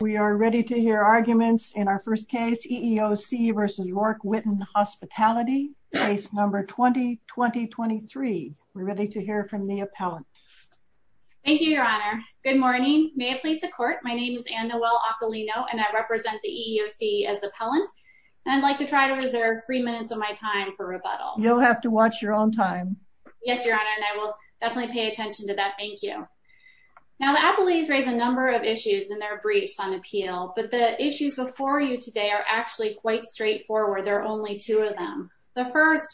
We are ready to hear arguments in our first case, EEOC v. Roark-Whitten Hospitality, case number 20-2023. We're ready to hear from the appellant. Thank you, Your Honor. Good morning. May it please the Court, my name is Anne-Noelle Aquilino, and I represent the EEOC as appellant. I'd like to try to reserve three minutes of my time for rebuttal. You'll have to watch your own time. Yes, Your Honor, and I will definitely pay attention to that. Thank you. Now, the appellees raised a number of issues in their briefs on appeal, but the issues before you today are actually quite straightforward. There are only two of them. The first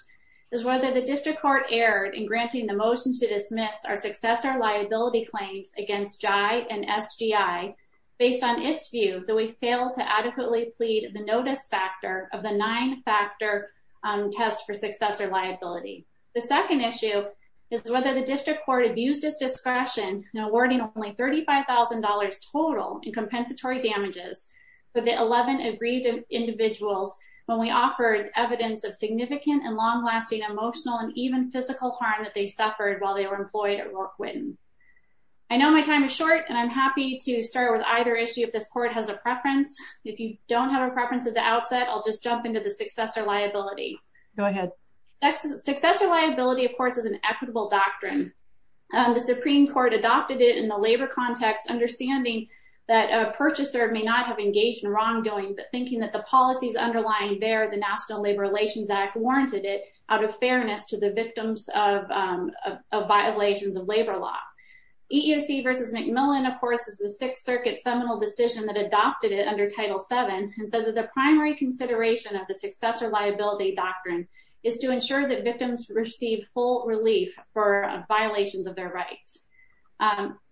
is whether the district court erred in granting the motion to dismiss our successor liability claims against JYE and SGI based on its view that we failed to adequately plead the notice factor of the nine-factor test for successor liability. The second issue is whether the district court abused its discretion in awarding only $35,000 total in compensatory damages for the 11 agreed individuals when we offered evidence of significant and long-lasting emotional and even physical harm that they suffered while they were employed at Rourke-Whitten. I know my time is short, and I'm happy to start with either issue if this Court has a preference. If you don't have a preference at the outset, I'll just jump into the successor liability. Go ahead. Successor liability, of course, is an equitable doctrine. The Supreme Court adopted it in the labor context, understanding that a purchaser may not have engaged in wrongdoing, but thinking that the policies underlying there, the National Labor Relations Act, warranted it out of fairness to the victims of violations of labor law. EEOC v. McMillan, of course, is the Sixth Circuit seminal decision that adopted it under Title VII and said that the primary consideration of the successor liability doctrine is to ensure that victims receive full relief for violations of their rights.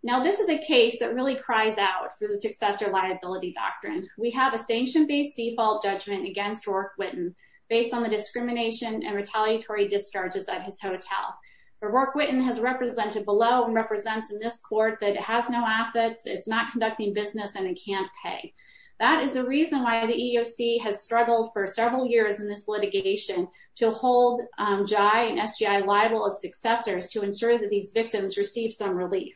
Now, this is a case that really cries out for the successor liability doctrine. We have a sanction-based default judgment against Rourke-Whitten based on the discrimination and retaliatory discharges at his hotel, but Rourke-Whitten has represented below and represents in this Court that it has no assets, it's not conducting business, and it can't pay. That is the reason why the EEOC has struggled for several years in this litigation to hold JAI and SGI liable as successors to ensure that these victims receive some relief.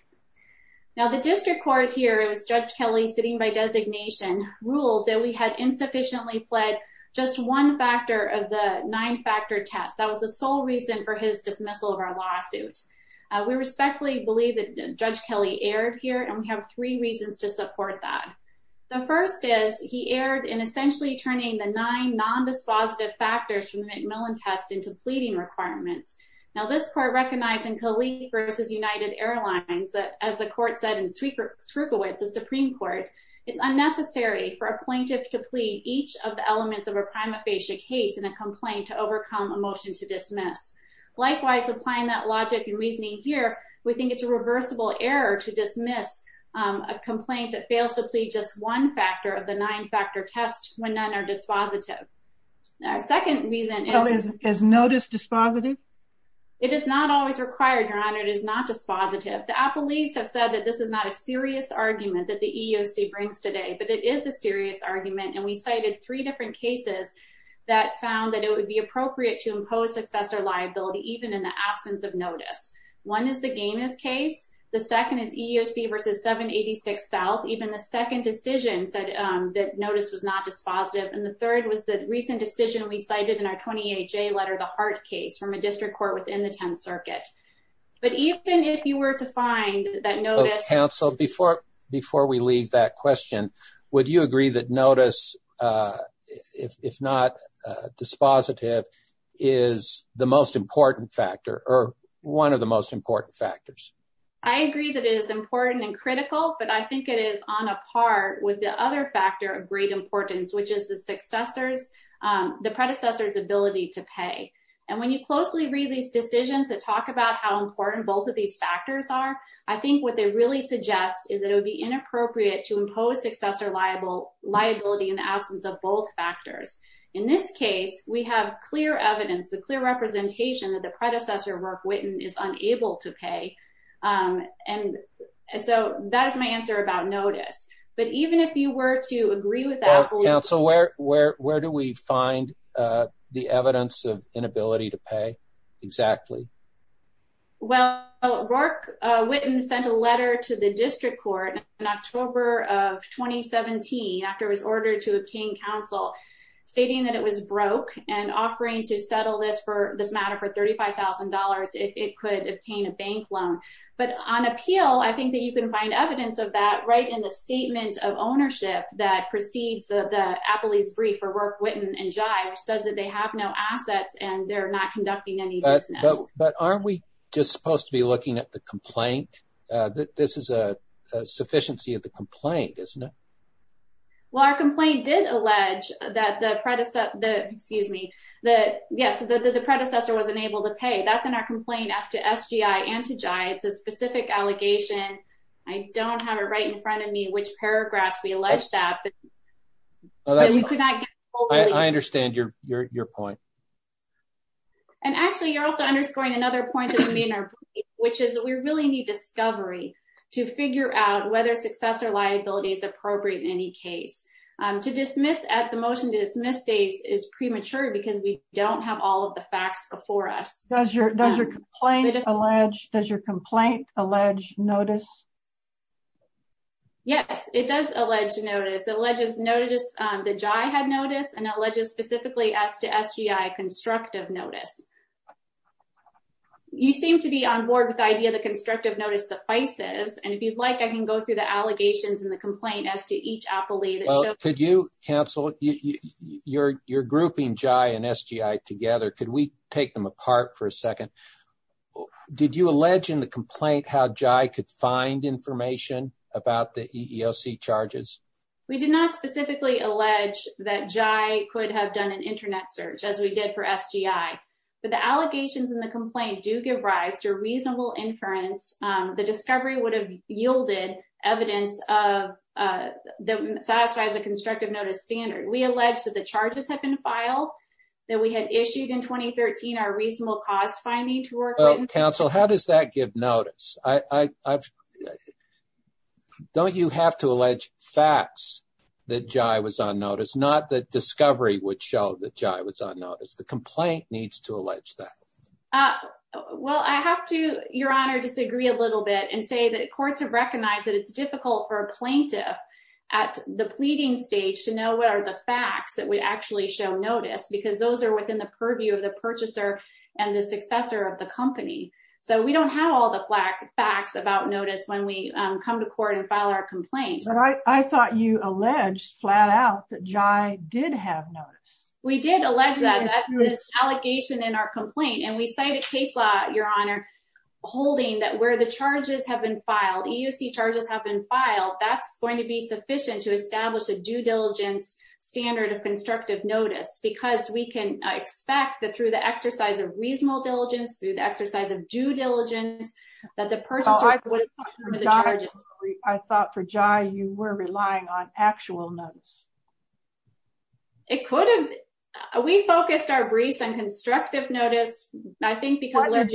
Now, the district court here, it was Judge Kelly sitting by designation, ruled that we had insufficiently pled just one factor of the nine-factor test. That was the sole reason for his dismissal of our lawsuit. We respectfully believe that Judge Kelly erred here, and we have three reasons to support that. The first is he erred in essentially turning the nine non-dispositive factors from the McMillan test into pleading requirements. Now, this Court recognized in Colleen v. United Airlines that, as the Court said in Skrupowitz, the Supreme Court, it's unnecessary for a plaintiff to plead each of the elements of a prima facie case in a complaint to overcome a motion to dismiss. Likewise, applying that logic and reasoning here, we think it's a reversible error to just one factor of the nine-factor test when none are dispositive. Now, our second reason is... Well, is notice dispositive? It is not always required, Your Honor. It is not dispositive. The appellees have said that this is not a serious argument that the EEOC brings today, but it is a serious argument, and we cited three different cases that found that it would be appropriate to impose successor liability even in the absence of notice. One is the Gaines case. The second is EEOC v. 786 South. Even the second decision said that notice was not dispositive, and the third was the recent decision we cited in our 28-J letter, the Hart case, from a district court within the Tenth Circuit. But even if you were to find that notice... Counsel, before we leave that question, would you agree that notice, if not dispositive, is the most important factor, or one of the most important factors? I agree that it is important and critical, but I think it is on a par with the other factor of great importance, which is the predecessor's ability to pay. And when you closely read these decisions that talk about how important both of these factors are, I think what they really suggest is that it would be inappropriate to impose successor liability in the absence of both factors. In this case, we have clear evidence, a clear representation that the predecessor, Rourke Whitten, was not dispositive. So that is my answer about notice. But even if you were to agree with that... Counsel, where do we find the evidence of inability to pay, exactly? Well, Rourke Whitten sent a letter to the district court in October of 2017, after it was ordered to obtain counsel, stating that it was broke and offering to settle this matter for $35,000, if it could obtain a bank loan. But on appeal, I think that you can find evidence of that right in the statement of ownership that precedes the Appley's brief for Rourke Whitten and Jive, says that they have no assets and they're not conducting any business. But aren't we just supposed to be looking at the complaint? This is a sufficiency of the complaint, isn't it? Well, our complaint did allege that the predecessor was unable to pay. That's in our complaint as to SGI and to Jive. It's a specific allegation. I don't have it right in front of me which paragraphs we allege that. I understand your point. And actually, you're also underscoring another point that we made in our brief, which is that we really need discovery to figure out whether success or liability is appropriate in any case. To dismiss at the motion to dismiss states is premature because we don't have all of the facts before us. Does your complaint allege notice? Yes, it does allege notice. It alleges notice that Jive had notice and alleges specifically as to SGI constructive notice. You seem to be on board with the idea that constructive notice suffices. And if you'd like, I can go through the allegations and the complaint as to each appellee. Well, could you, counsel, you're grouping Jive and SGI together. Could we take them apart for a second? Did you allege in the complaint how Jive could find information about the EEOC charges? We did not specifically allege that Jive could have done an internet search as we did for SGI. But the allegations in the complaint do give rise to a reasonable inference. The discovery would have yielded evidence that satisfies a constructive notice standard. We allege that the charges have been filed that we had issued in 2013 are reasonable cost finding to work with. Counsel, how does that give notice? Don't you have to allege facts that Jive was on notice? Not that discovery would show that Jive was on notice. The complaint needs to allege that. Well, I have to, Your Honor, disagree a little bit and say that courts have recognized that it's difficult for a plaintiff at the pleading stage to know what are the facts that we actually show notice because those are within the purview of the purchaser and the successor of the company. So we don't have all the facts about notice when we come to court and file our complaint. But I thought you alleged flat out that Jive did have notice. We did allege that this allegation in our complaint. And we cited case law, Your Honor, holding that where the charges have been filed, EUC charges have been filed. That's going to be sufficient to establish a due diligence standard of constructive notice because we can expect that through the exercise of reasonable diligence, through the exercise of due diligence, that the purchaser would have the charges. I thought for Jive you were relying on actual notice. It could have. We focused our briefs on constructive notice, I think, because alleged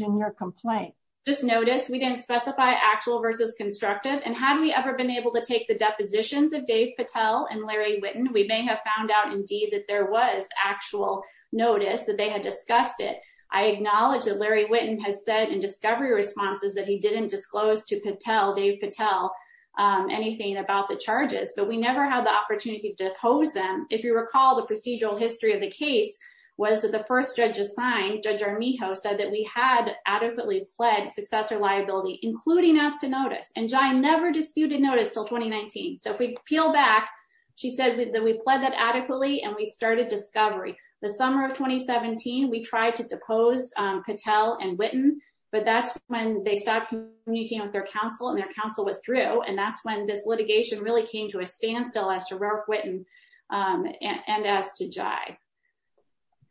in your complaint. Just notice we didn't specify actual versus constructive. And had we ever been able to take the depositions of Dave Patel and Larry Witten, we may have found out indeed that there was actual notice that they had discussed it. I acknowledge that Larry Witten has said in discovery responses that he didn't disclose to Patel, Dave Patel, anything about the charges. But we never had the opportunity to depose them. If you recall, the procedural history of the case was that the first judge assigned, Judge Armijo, said that we had adequately pled successor liability, including us to notice. And Jive never disputed notice until 2019. So if we peel back, she said that we pled that adequately and we started discovery. The summer of 2017, we tried to depose Patel and Witten. But that's when they stopped communicating with their counsel and their counsel withdrew. And that's when this litigation really came to a standstill as to Rourke Witten and as to Jive.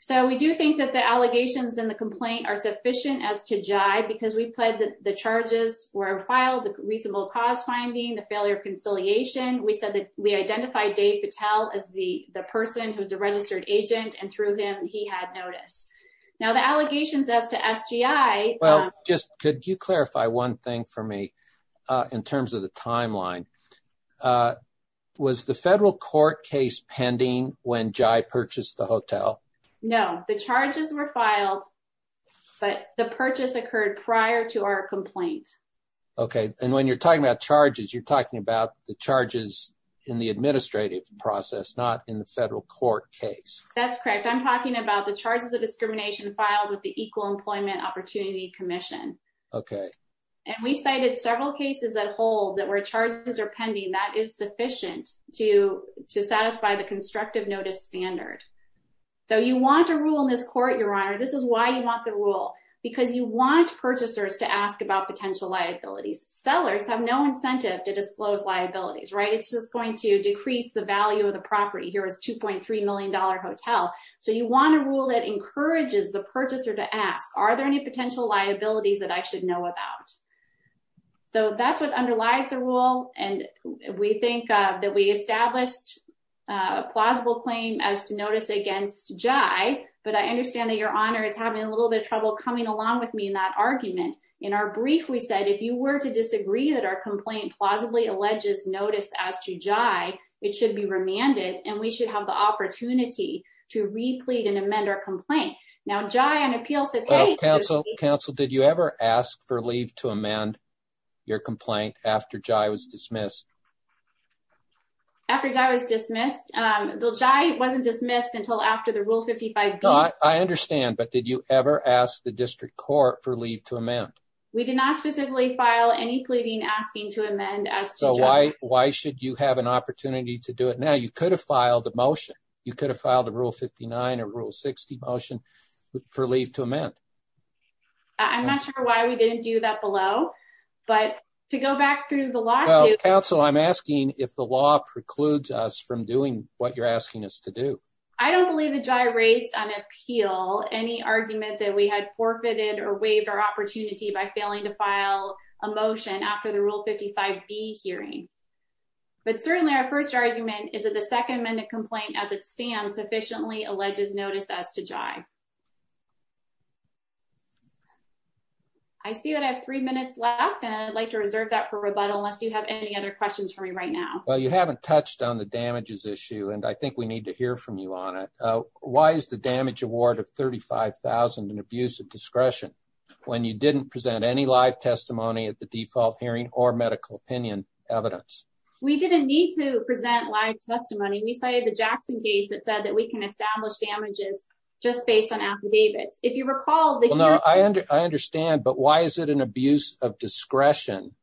So we do think that the allegations in the complaint are sufficient as to Jive, because we pled that the charges were filed, the reasonable cause finding, the failure of conciliation. We said that we identified Dave Patel as the person who's a registered agent. And through him, he had notice. Now, the allegations as to SGI. Well, just could you clarify one thing for me in terms of the timeline? Was the federal court case pending when Jive purchased the hotel? No, the charges were filed. But the purchase occurred prior to our complaint. OK. And when you're talking about charges, you're talking about the charges in the administrative process, not in the federal court case. That's correct. I'm talking about the charges of discrimination filed with the Equal Employment Opportunity Commission. OK. And we cited several cases that hold that where charges are pending, that is sufficient to satisfy the constructive notice standard. So you want a rule in this court, Your Honor. This is why you want the rule, because you want purchasers to ask about potential liabilities. Sellers have no incentive to disclose liabilities, right? It's just going to decrease the value of the property. It's a $2.3 million hotel. So you want a rule that encourages the purchaser to ask, are there any potential liabilities that I should know about? So that's what underlies the rule. And we think that we established a plausible claim as to notice against Jive. But I understand that Your Honor is having a little bit of trouble coming along with me in that argument. In our brief, we said, if you were to disagree that our complaint plausibly alleges notice as to Jive, it should be remanded. And we should have the opportunity to re-plead and amend our complaint. Now, Jive on appeal says, hey- Counsel, Counsel, did you ever ask for leave to amend your complaint after Jive was dismissed? After Jive was dismissed, Jive wasn't dismissed until after the Rule 55B. I understand. But did you ever ask the district court for leave to amend? We did not specifically file any pleading asking to amend as to Jive. Why should you have an opportunity to do it now? You could have filed a motion. You could have filed a Rule 59 or Rule 60 motion for leave to amend. I'm not sure why we didn't do that below. But to go back through the lawsuit- Counsel, I'm asking if the law precludes us from doing what you're asking us to do. I don't believe that Jive raised on appeal any argument that we had forfeited or waived our opportunity by failing to file a motion after the Rule 55B hearing. But certainly, our first argument is that the second amended complaint as it stands sufficiently alleges notice as to Jive. I see that I have three minutes left. And I'd like to reserve that for rebuttal unless you have any other questions for me right now. Well, you haven't touched on the damages issue. And I think we need to hear from you on it. Why is the damage award of $35,000 an abuse of discretion when you didn't present any live testimony at the default hearing or medical opinion evidence? We didn't need to present live testimony. We cited the Jackson case that said that we can establish damages just based on affidavits. If you recall- No, I understand. But why is it an abuse of discretion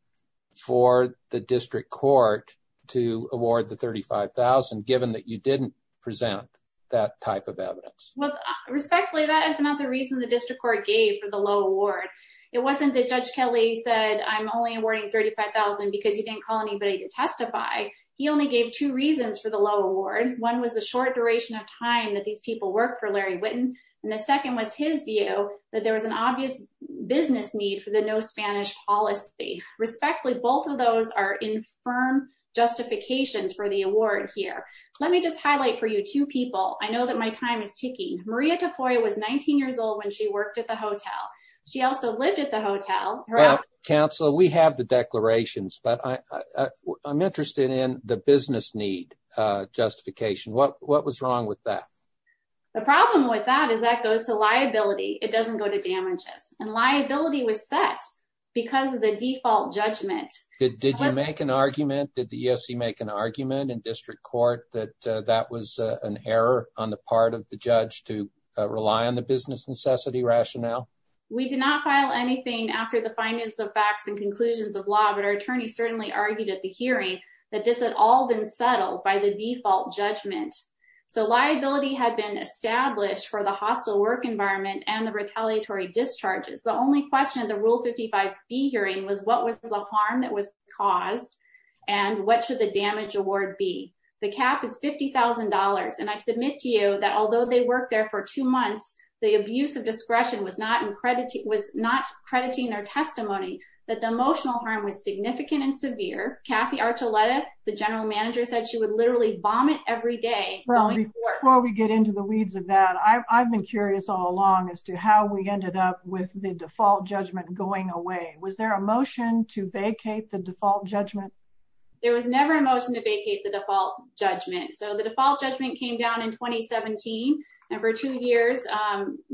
for the district court to award the $35,000 given that you didn't present that type of evidence? Well, respectfully, that is not the reason the district court gave for the low award. It wasn't that Judge Kelly said, I'm only awarding $35,000 because you didn't call anybody to testify. He only gave two reasons for the low award. One was the short duration of time that these people work for Larry Witten. And the second was his view that there was an obvious business need for the no Spanish policy. Respectfully, both of those are infirm justifications for the award here. Let me just highlight for you two people. I know that my time is ticking. Maria Tafoya was 19 years old when she worked at the hotel. She also lived at the hotel. Counselor, we have the declarations, but I'm interested in the business need justification. What was wrong with that? The problem with that is that goes to liability. It doesn't go to damages. Did you make an argument? Did the ESC make an argument in district court that that was an error on the part of the judge to rely on the business necessity rationale? We did not file anything after the findings of facts and conclusions of law. But our attorney certainly argued at the hearing that this had all been settled by the default judgment. So liability had been established for the hostile work environment and the retaliatory discharges. The only question of the Rule 55B hearing was what was the harm that was caused? And what should the damage award be? The cap is $50,000. And I submit to you that although they worked there for two months, the abuse of discretion was not crediting their testimony, that the emotional harm was significant and severe. Kathy Archuleta, the general manager, said she would literally vomit every day. Well, before we get into the weeds of that, I've been curious all along as to how we ended up with the default judgment going away. Was there a motion to vacate the default judgment? There was never a motion to vacate the default judgment. So the default judgment came down in 2017. And for two years,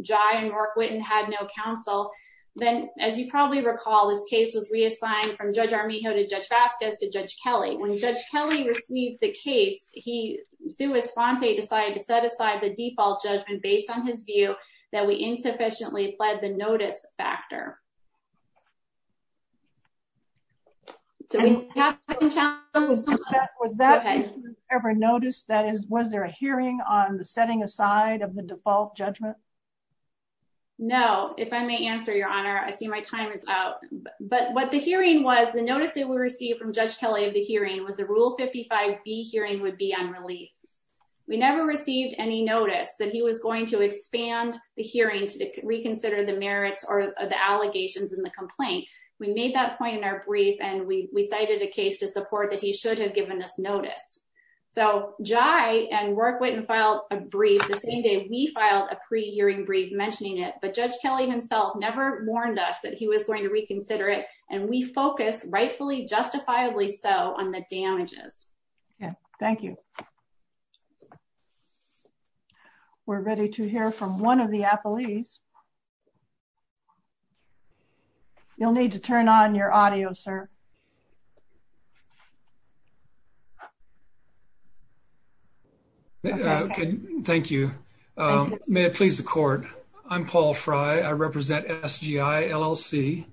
Jai and Mark Whitten had no counsel. Then, as you probably recall, this case was reassigned from Judge Armijo to Judge Vasquez to Judge Kelly. When Judge Kelly received the case, he, sui sponte, decided to set aside the default judgment based on his view that we insufficiently fled the notice factor. So we have to challenge that. Was that ever noticed? That is, was there a hearing on the setting aside of the default judgment? No. If I may answer, Your Honor, I see my time is out. But what the hearing was, the notice that we received from Judge Kelly of the hearing was the Rule 55B hearing would be on relief. We never received any notice that he was going to expand the hearing to reconsider the merits or the allegations in the complaint. We made that point in our brief. And we cited a case to support that he should have given us notice. So Jai and Mark Whitten filed a brief the same day we filed a pre-hearing brief mentioning it. But Judge Kelly himself never warned us that he was going to reconsider it. And we focused, rightfully, justifiably so, on the damages. Yeah, thank you. We're ready to hear from one of the appellees. You'll need to turn on your audio, sir. Thank you. May it please the court. I'm Paul Fry. I represent SGI LLC.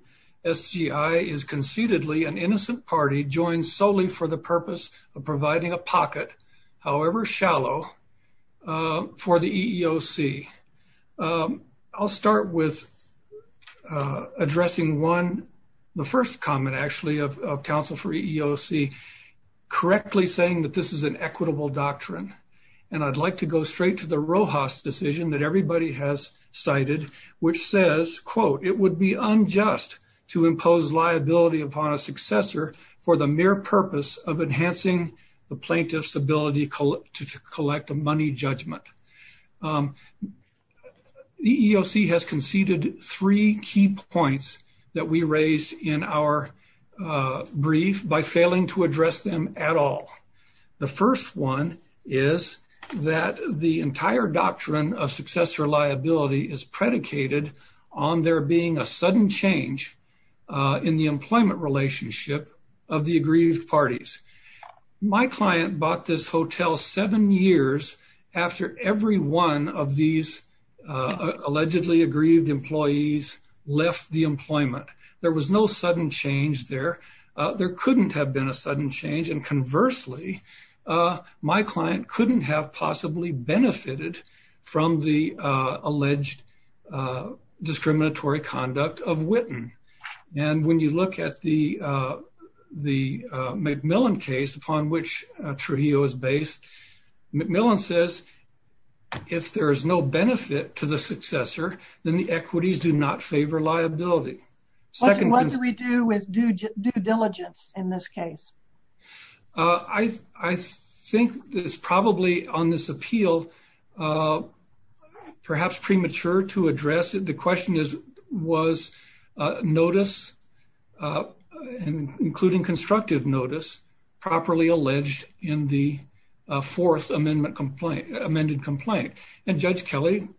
SGI is conceitedly an innocent party joined solely for the purpose of providing a pocket, however shallow, for the EEOC. I'll start with addressing one, the first comment, actually, of counsel for EEOC, correctly saying that this is an equitable doctrine. And I'd like to go straight to the Rojas decision that everybody has cited, which says, quote, it would be unjust to impose liability upon a successor for the mere purpose of enhancing the plaintiff's ability to collect a money judgment. The EEOC has conceded three key points that we raised in our brief by failing to address them at all. The first one is that the entire doctrine of successor liability is predicated on there being a sudden change in the employment relationship of the aggrieved parties. My client bought this hotel seven years after every one of these allegedly aggrieved employees left the employment. There was no sudden change there. There couldn't have been a sudden change. And conversely, my client couldn't have possibly benefited from the alleged discriminatory conduct of Witten. And when you look at the McMillan case upon which Trujillo is based, McMillan says, if there is no benefit to the successor, then the equities do not favor liability. What do we do with due diligence in this case? I think that it's probably on this appeal, perhaps premature to address it. The question is, was notice, including constructive notice, properly alleged in the fourth amended complaint? And Judge Kelly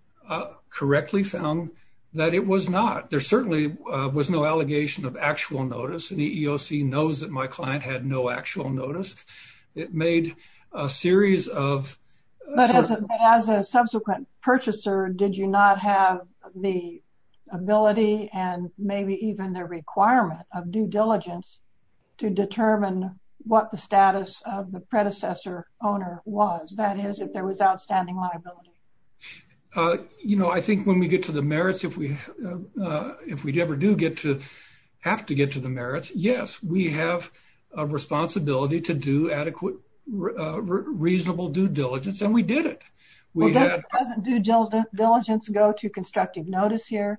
correctly found that it was not. There certainly was no allegation of actual notice. And the EEOC knows that my client had no actual notice. It made a series of... But as a subsequent purchaser, did you not have the ability and maybe even the requirement of due diligence to determine what the status of the predecessor owner was? That is, if there was outstanding liability. I think when we get to the merits, if we ever do get to have to get to the merits, yes, we have a responsibility to do adequate, reasonable due diligence. And we did it. Doesn't due diligence go to constructive notice here?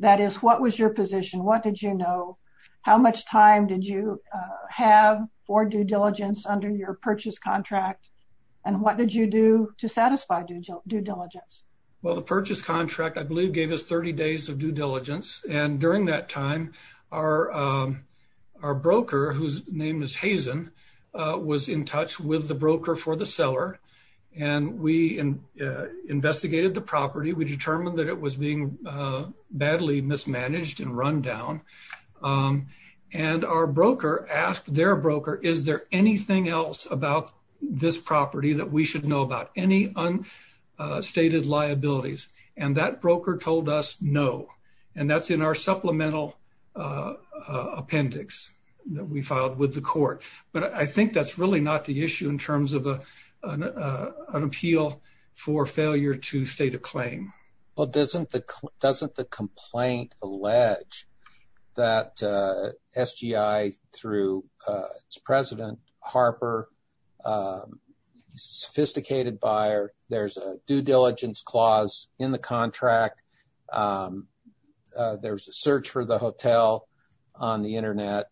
That is, what was your position? What did you know? How much time did you have for due diligence under your purchase contract? And what did you do to satisfy due diligence? Well, the purchase contract, I believe, gave us 30 days of due diligence. And during that time, our broker, whose name is Hazen, was in touch with the broker for the seller, and we investigated the property. We determined that it was being badly mismanaged and run down. And our broker asked their broker, is there anything else about this property that we should know about? Any unstated liabilities? And that broker told us no. And that's in our supplemental appendix that we filed with the court. But I think that's really not the issue in terms of an appeal for failure to state a claim. Well, doesn't the complaint allege that SGI, through its president, Harper, sophisticated buyer, there's a due diligence clause in the contract, there's a search for the hotel on the internet.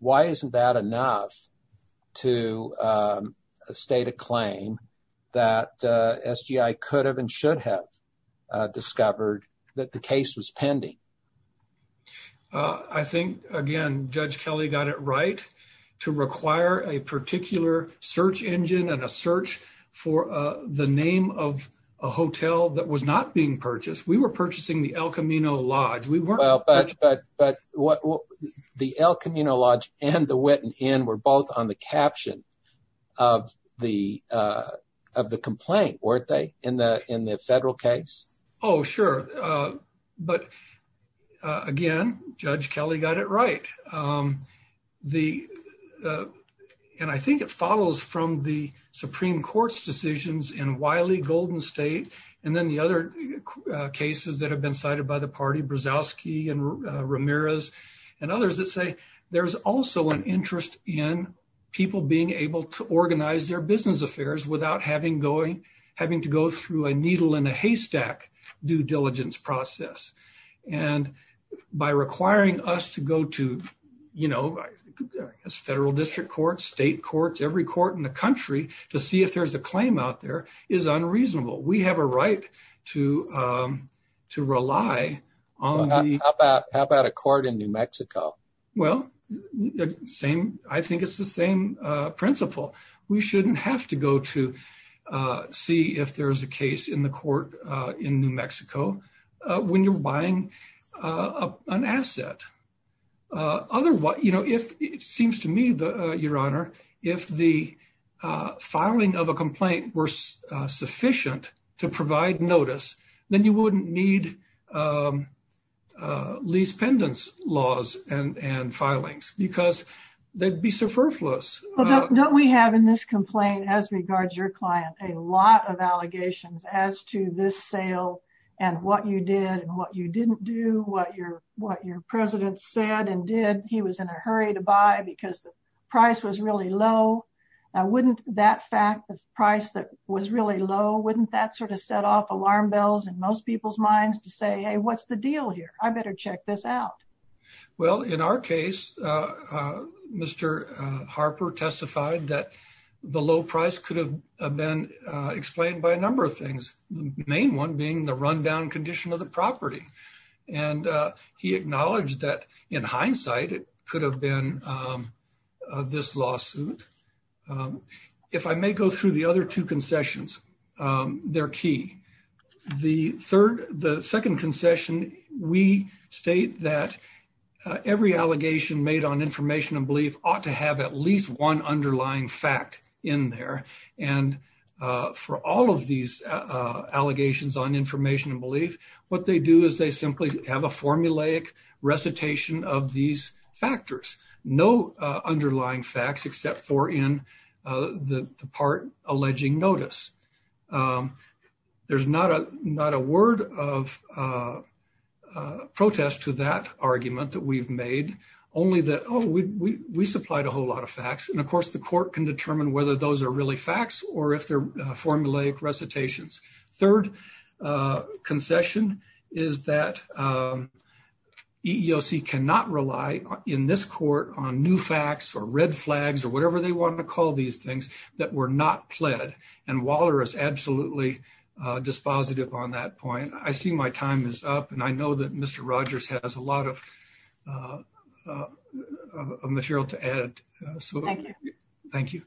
Why isn't that enough to state a claim that SGI could have and should have discovered that the case was pending? I think, again, Judge Kelly got it right, to require a particular search engine and a search for the name of a hotel that was not being purchased. We were purchasing the El Camino Lodge. But the El Camino Lodge and the Witten Inn were both on the caption of the complaint, weren't they, in the federal case? Oh, sure. But again, Judge Kelly got it right. And I think it follows from the Supreme Court's decisions in Wiley, Golden State, and then the other cases that have been cited by the party, Brzozowski and Ramirez, and others that say there's also an interest in people being able to organize their business affairs without having to go through a needle in a haystack due diligence process. And by requiring us to go to federal district courts, state courts, every court in the country to see if there's a claim out there is unreasonable. We have a right to rely on the- How about a court in New Mexico? Well, I think it's the same principle. We shouldn't have to go to see if there's a case in the court in New Mexico when you're buying an asset. Otherwise, you know, it seems to me, Your Honor, if the filing of a complaint were sufficient to provide notice, then you wouldn't need lease pendants laws and filings because they'd be so frivolous. But don't we have in this complaint, as regards your client, a lot of allegations as to this said and did, he was in a hurry to buy because the price was really low. Wouldn't that fact of price that was really low, wouldn't that sort of set off alarm bells in most people's minds to say, hey, what's the deal here? I better check this out. Well, in our case, Mr. Harper testified that the low price could have been explained by a number of things, the main one being the rundown condition of the property. And he acknowledged that in hindsight, it could have been this lawsuit. If I may go through the other two concessions, they're key. The third, the second concession, we state that every allegation made on information and belief ought to have at least one underlying fact in there. And for all of these allegations on information and belief, what they do is they simply have a formulaic recitation of these factors. No underlying facts except for in the part alleging notice. There's not a word of protest to that argument that we've made, only that, oh, we supplied a whole lot of facts. And of course, the court can determine whether those are really facts or if they're formulaic recitations. Third concession is that EEOC cannot rely in this court on new facts or red flags or whatever they want to call these things that were not pled. And Waller is absolutely dispositive on that point. I see my time is up. And I know that Mr. Rogers has a lot of material to add. So thank you.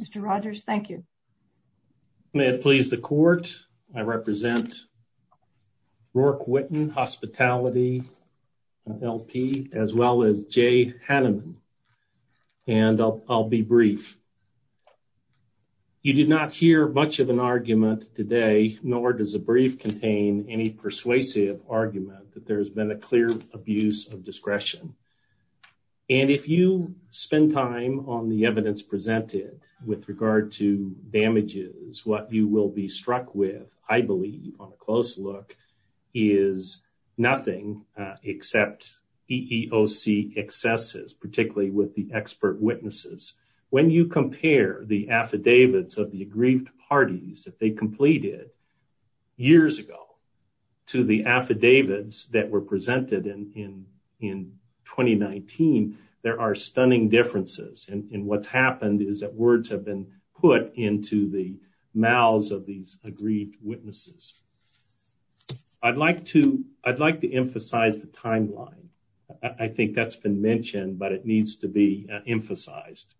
Mr. Rogers, thank you. May it please the court. I represent Rourke Whitten, hospitality LP, as well as Jay Hanneman. And I'll be brief. You did not hear much of an argument today, nor does a brief contain any persuasive argument that there has been a clear abuse of discretion. And if you spend time on the evidence presented with regard to damages, what you will be struck with, I believe on a close look, is nothing except EEOC excesses, particularly with the expert witnesses. When you compare the affidavits of the aggrieved parties that they completed years ago to the affidavits that were presented in 2019, there are stunning differences. And what's happened is that words have been put into the mouths of these aggrieved witnesses. I'd like to emphasize the timeline. I think that's been mentioned, but it needs to be emphasized.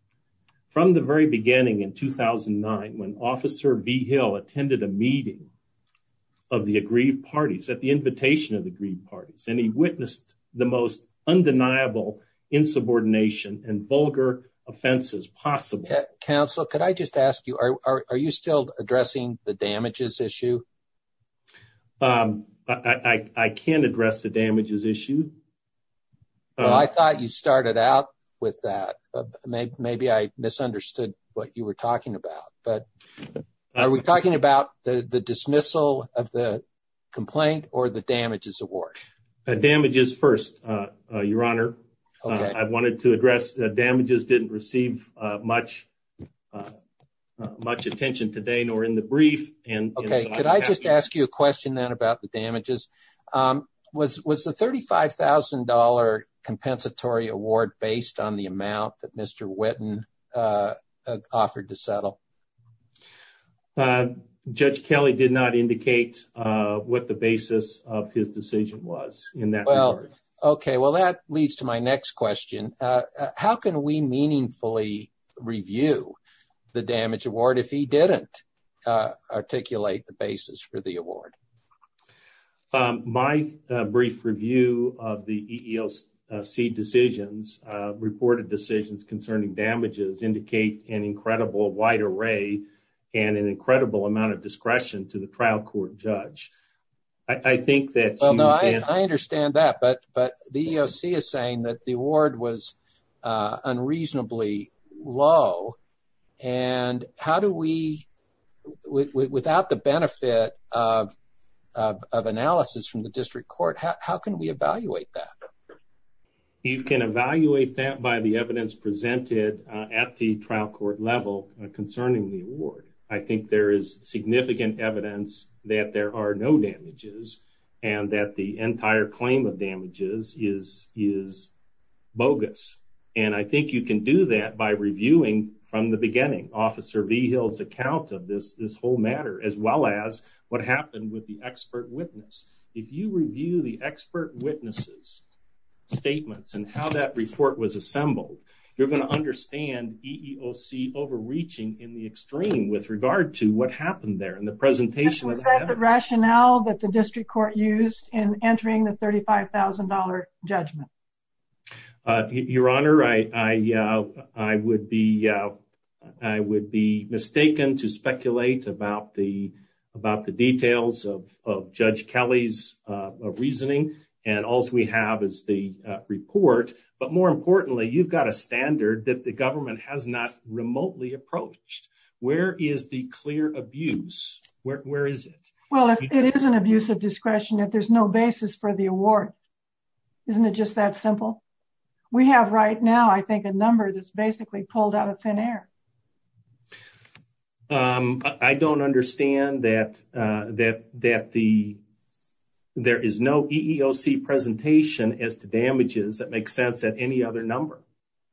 From the very beginning in 2009, when Officer V. Hill attended a meeting of the aggrieved parties at the invitation of the aggrieved parties, and he witnessed the most undeniable insubordination and vulgar offenses possible. Counsel, could I just ask you, are you still addressing the damages issue? I can address the damages issue. I thought you started out with that. Maybe I misunderstood what you were talking about. But are we talking about the dismissal of the complaint or the damages award? Damages first, Your Honor. I wanted to address the damages didn't receive much attention today, nor in the brief. Could I just ask you a question then about the damages? Was the $35,000 compensatory award based on the amount that Mr. Whitten offered to settle? Uh, Judge Kelly did not indicate what the basis of his decision was in that. Well, okay. Well, that leads to my next question. How can we meaningfully review the damage award if he didn't articulate the basis for the award? My brief review of the EEOC decisions, reported decisions concerning damages, indicate an incredible wide array and an incredible amount of discretion to the trial court judge. I think that... Well, no, I understand that. But the EEOC is saying that the award was unreasonably low. And how do we, without the benefit of analysis from the district court, how can we evaluate that? You can evaluate that by the evidence presented at the trial court level concerning the award. I think there is significant evidence that there are no damages and that the entire claim of damages is bogus. And I think you can do that by reviewing from the beginning, Officer Vigil's account of this whole matter, as well as what happened with the expert witness. If you review the expert witnesses' statements and how that report was assembled, you're going to understand EEOC overreaching in the extreme with regard to what happened there. And the presentation... Is that the rationale that the district court used in entering the $35,000 judgment? Your Honor, I would be mistaken to speculate about the details of Judge Kelly's reasoning and all we have is the report. But more importantly, you've got a standard that the government has not remotely approached. Where is the clear abuse? Where is it? Well, if it is an abuse of discretion, if there's no basis for the award, isn't it just that simple? We have right now, I think, a number that's basically pulled out of thin air. I don't understand that there is no EEOC presentation as to damages that make sense at any other number.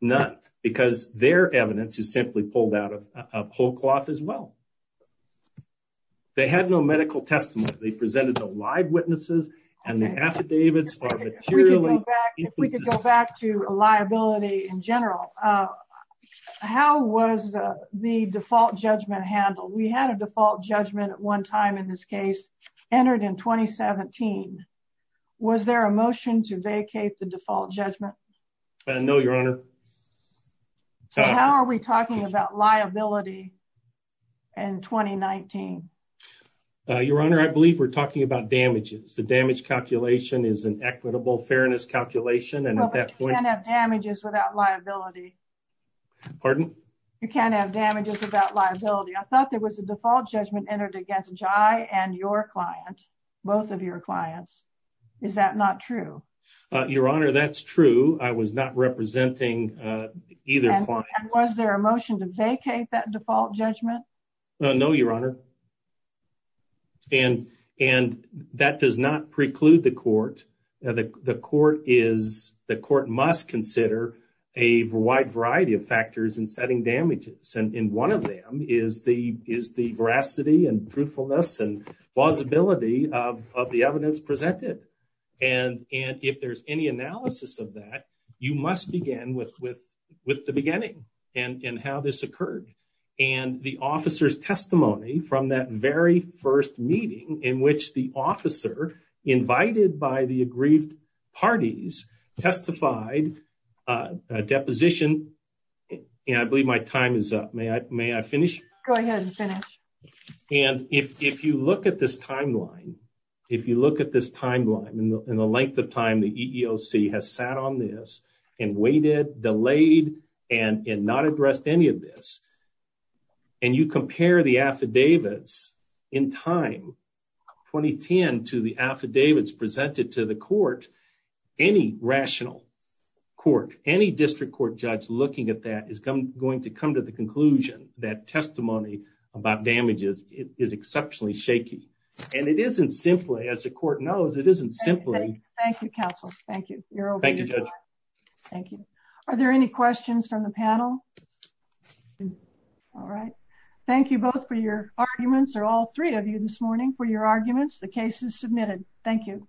None. Because their evidence is simply pulled out of whole cloth as well. They had no medical testimony. They presented the live witnesses and the affidavits are materially inconsistent. If we could go back to liability in general, how was the default judgment handled? We had a default judgment at one time in this case, entered in 2017. Was there a motion to vacate the default judgment? No, Your Honor. How are we talking about liability in 2019? Your Honor, I believe we're talking about damages. The damage calculation is an equitable fairness calculation. Well, but you can't have damages without liability. Pardon? You can't have damages without liability. I thought there was a default judgment entered against Jai and your client, both of your clients. Is that not true? Your Honor, that's true. I was not representing either client. Was there a motion to vacate that default judgment? No, Your Honor. And that does not preclude the court. The court must consider a wide variety of factors in setting damages. And one of them is the veracity and truthfulness and plausibility of the evidence presented. And if there's any analysis of that, you must begin with the beginning and how this occurred. And the officer's testimony from that very first meeting in which the officer invited by the aggrieved parties testified a deposition. And I believe my time is up. May I finish? Go ahead and finish. And if you look at this timeline, if you look at this timeline and the length of time the this, and you compare the affidavits in time 2010 to the affidavits presented to the court, any rational court, any district court judge looking at that is going to come to the conclusion that testimony about damages is exceptionally shaky. And it isn't simply, as the court knows, it isn't simply. Thank you, counsel. Thank you. You're over. Thank you. Are there any questions from the panel? All right. Thank you both for your arguments, or all three of you this morning for your arguments. The case is submitted. Thank you.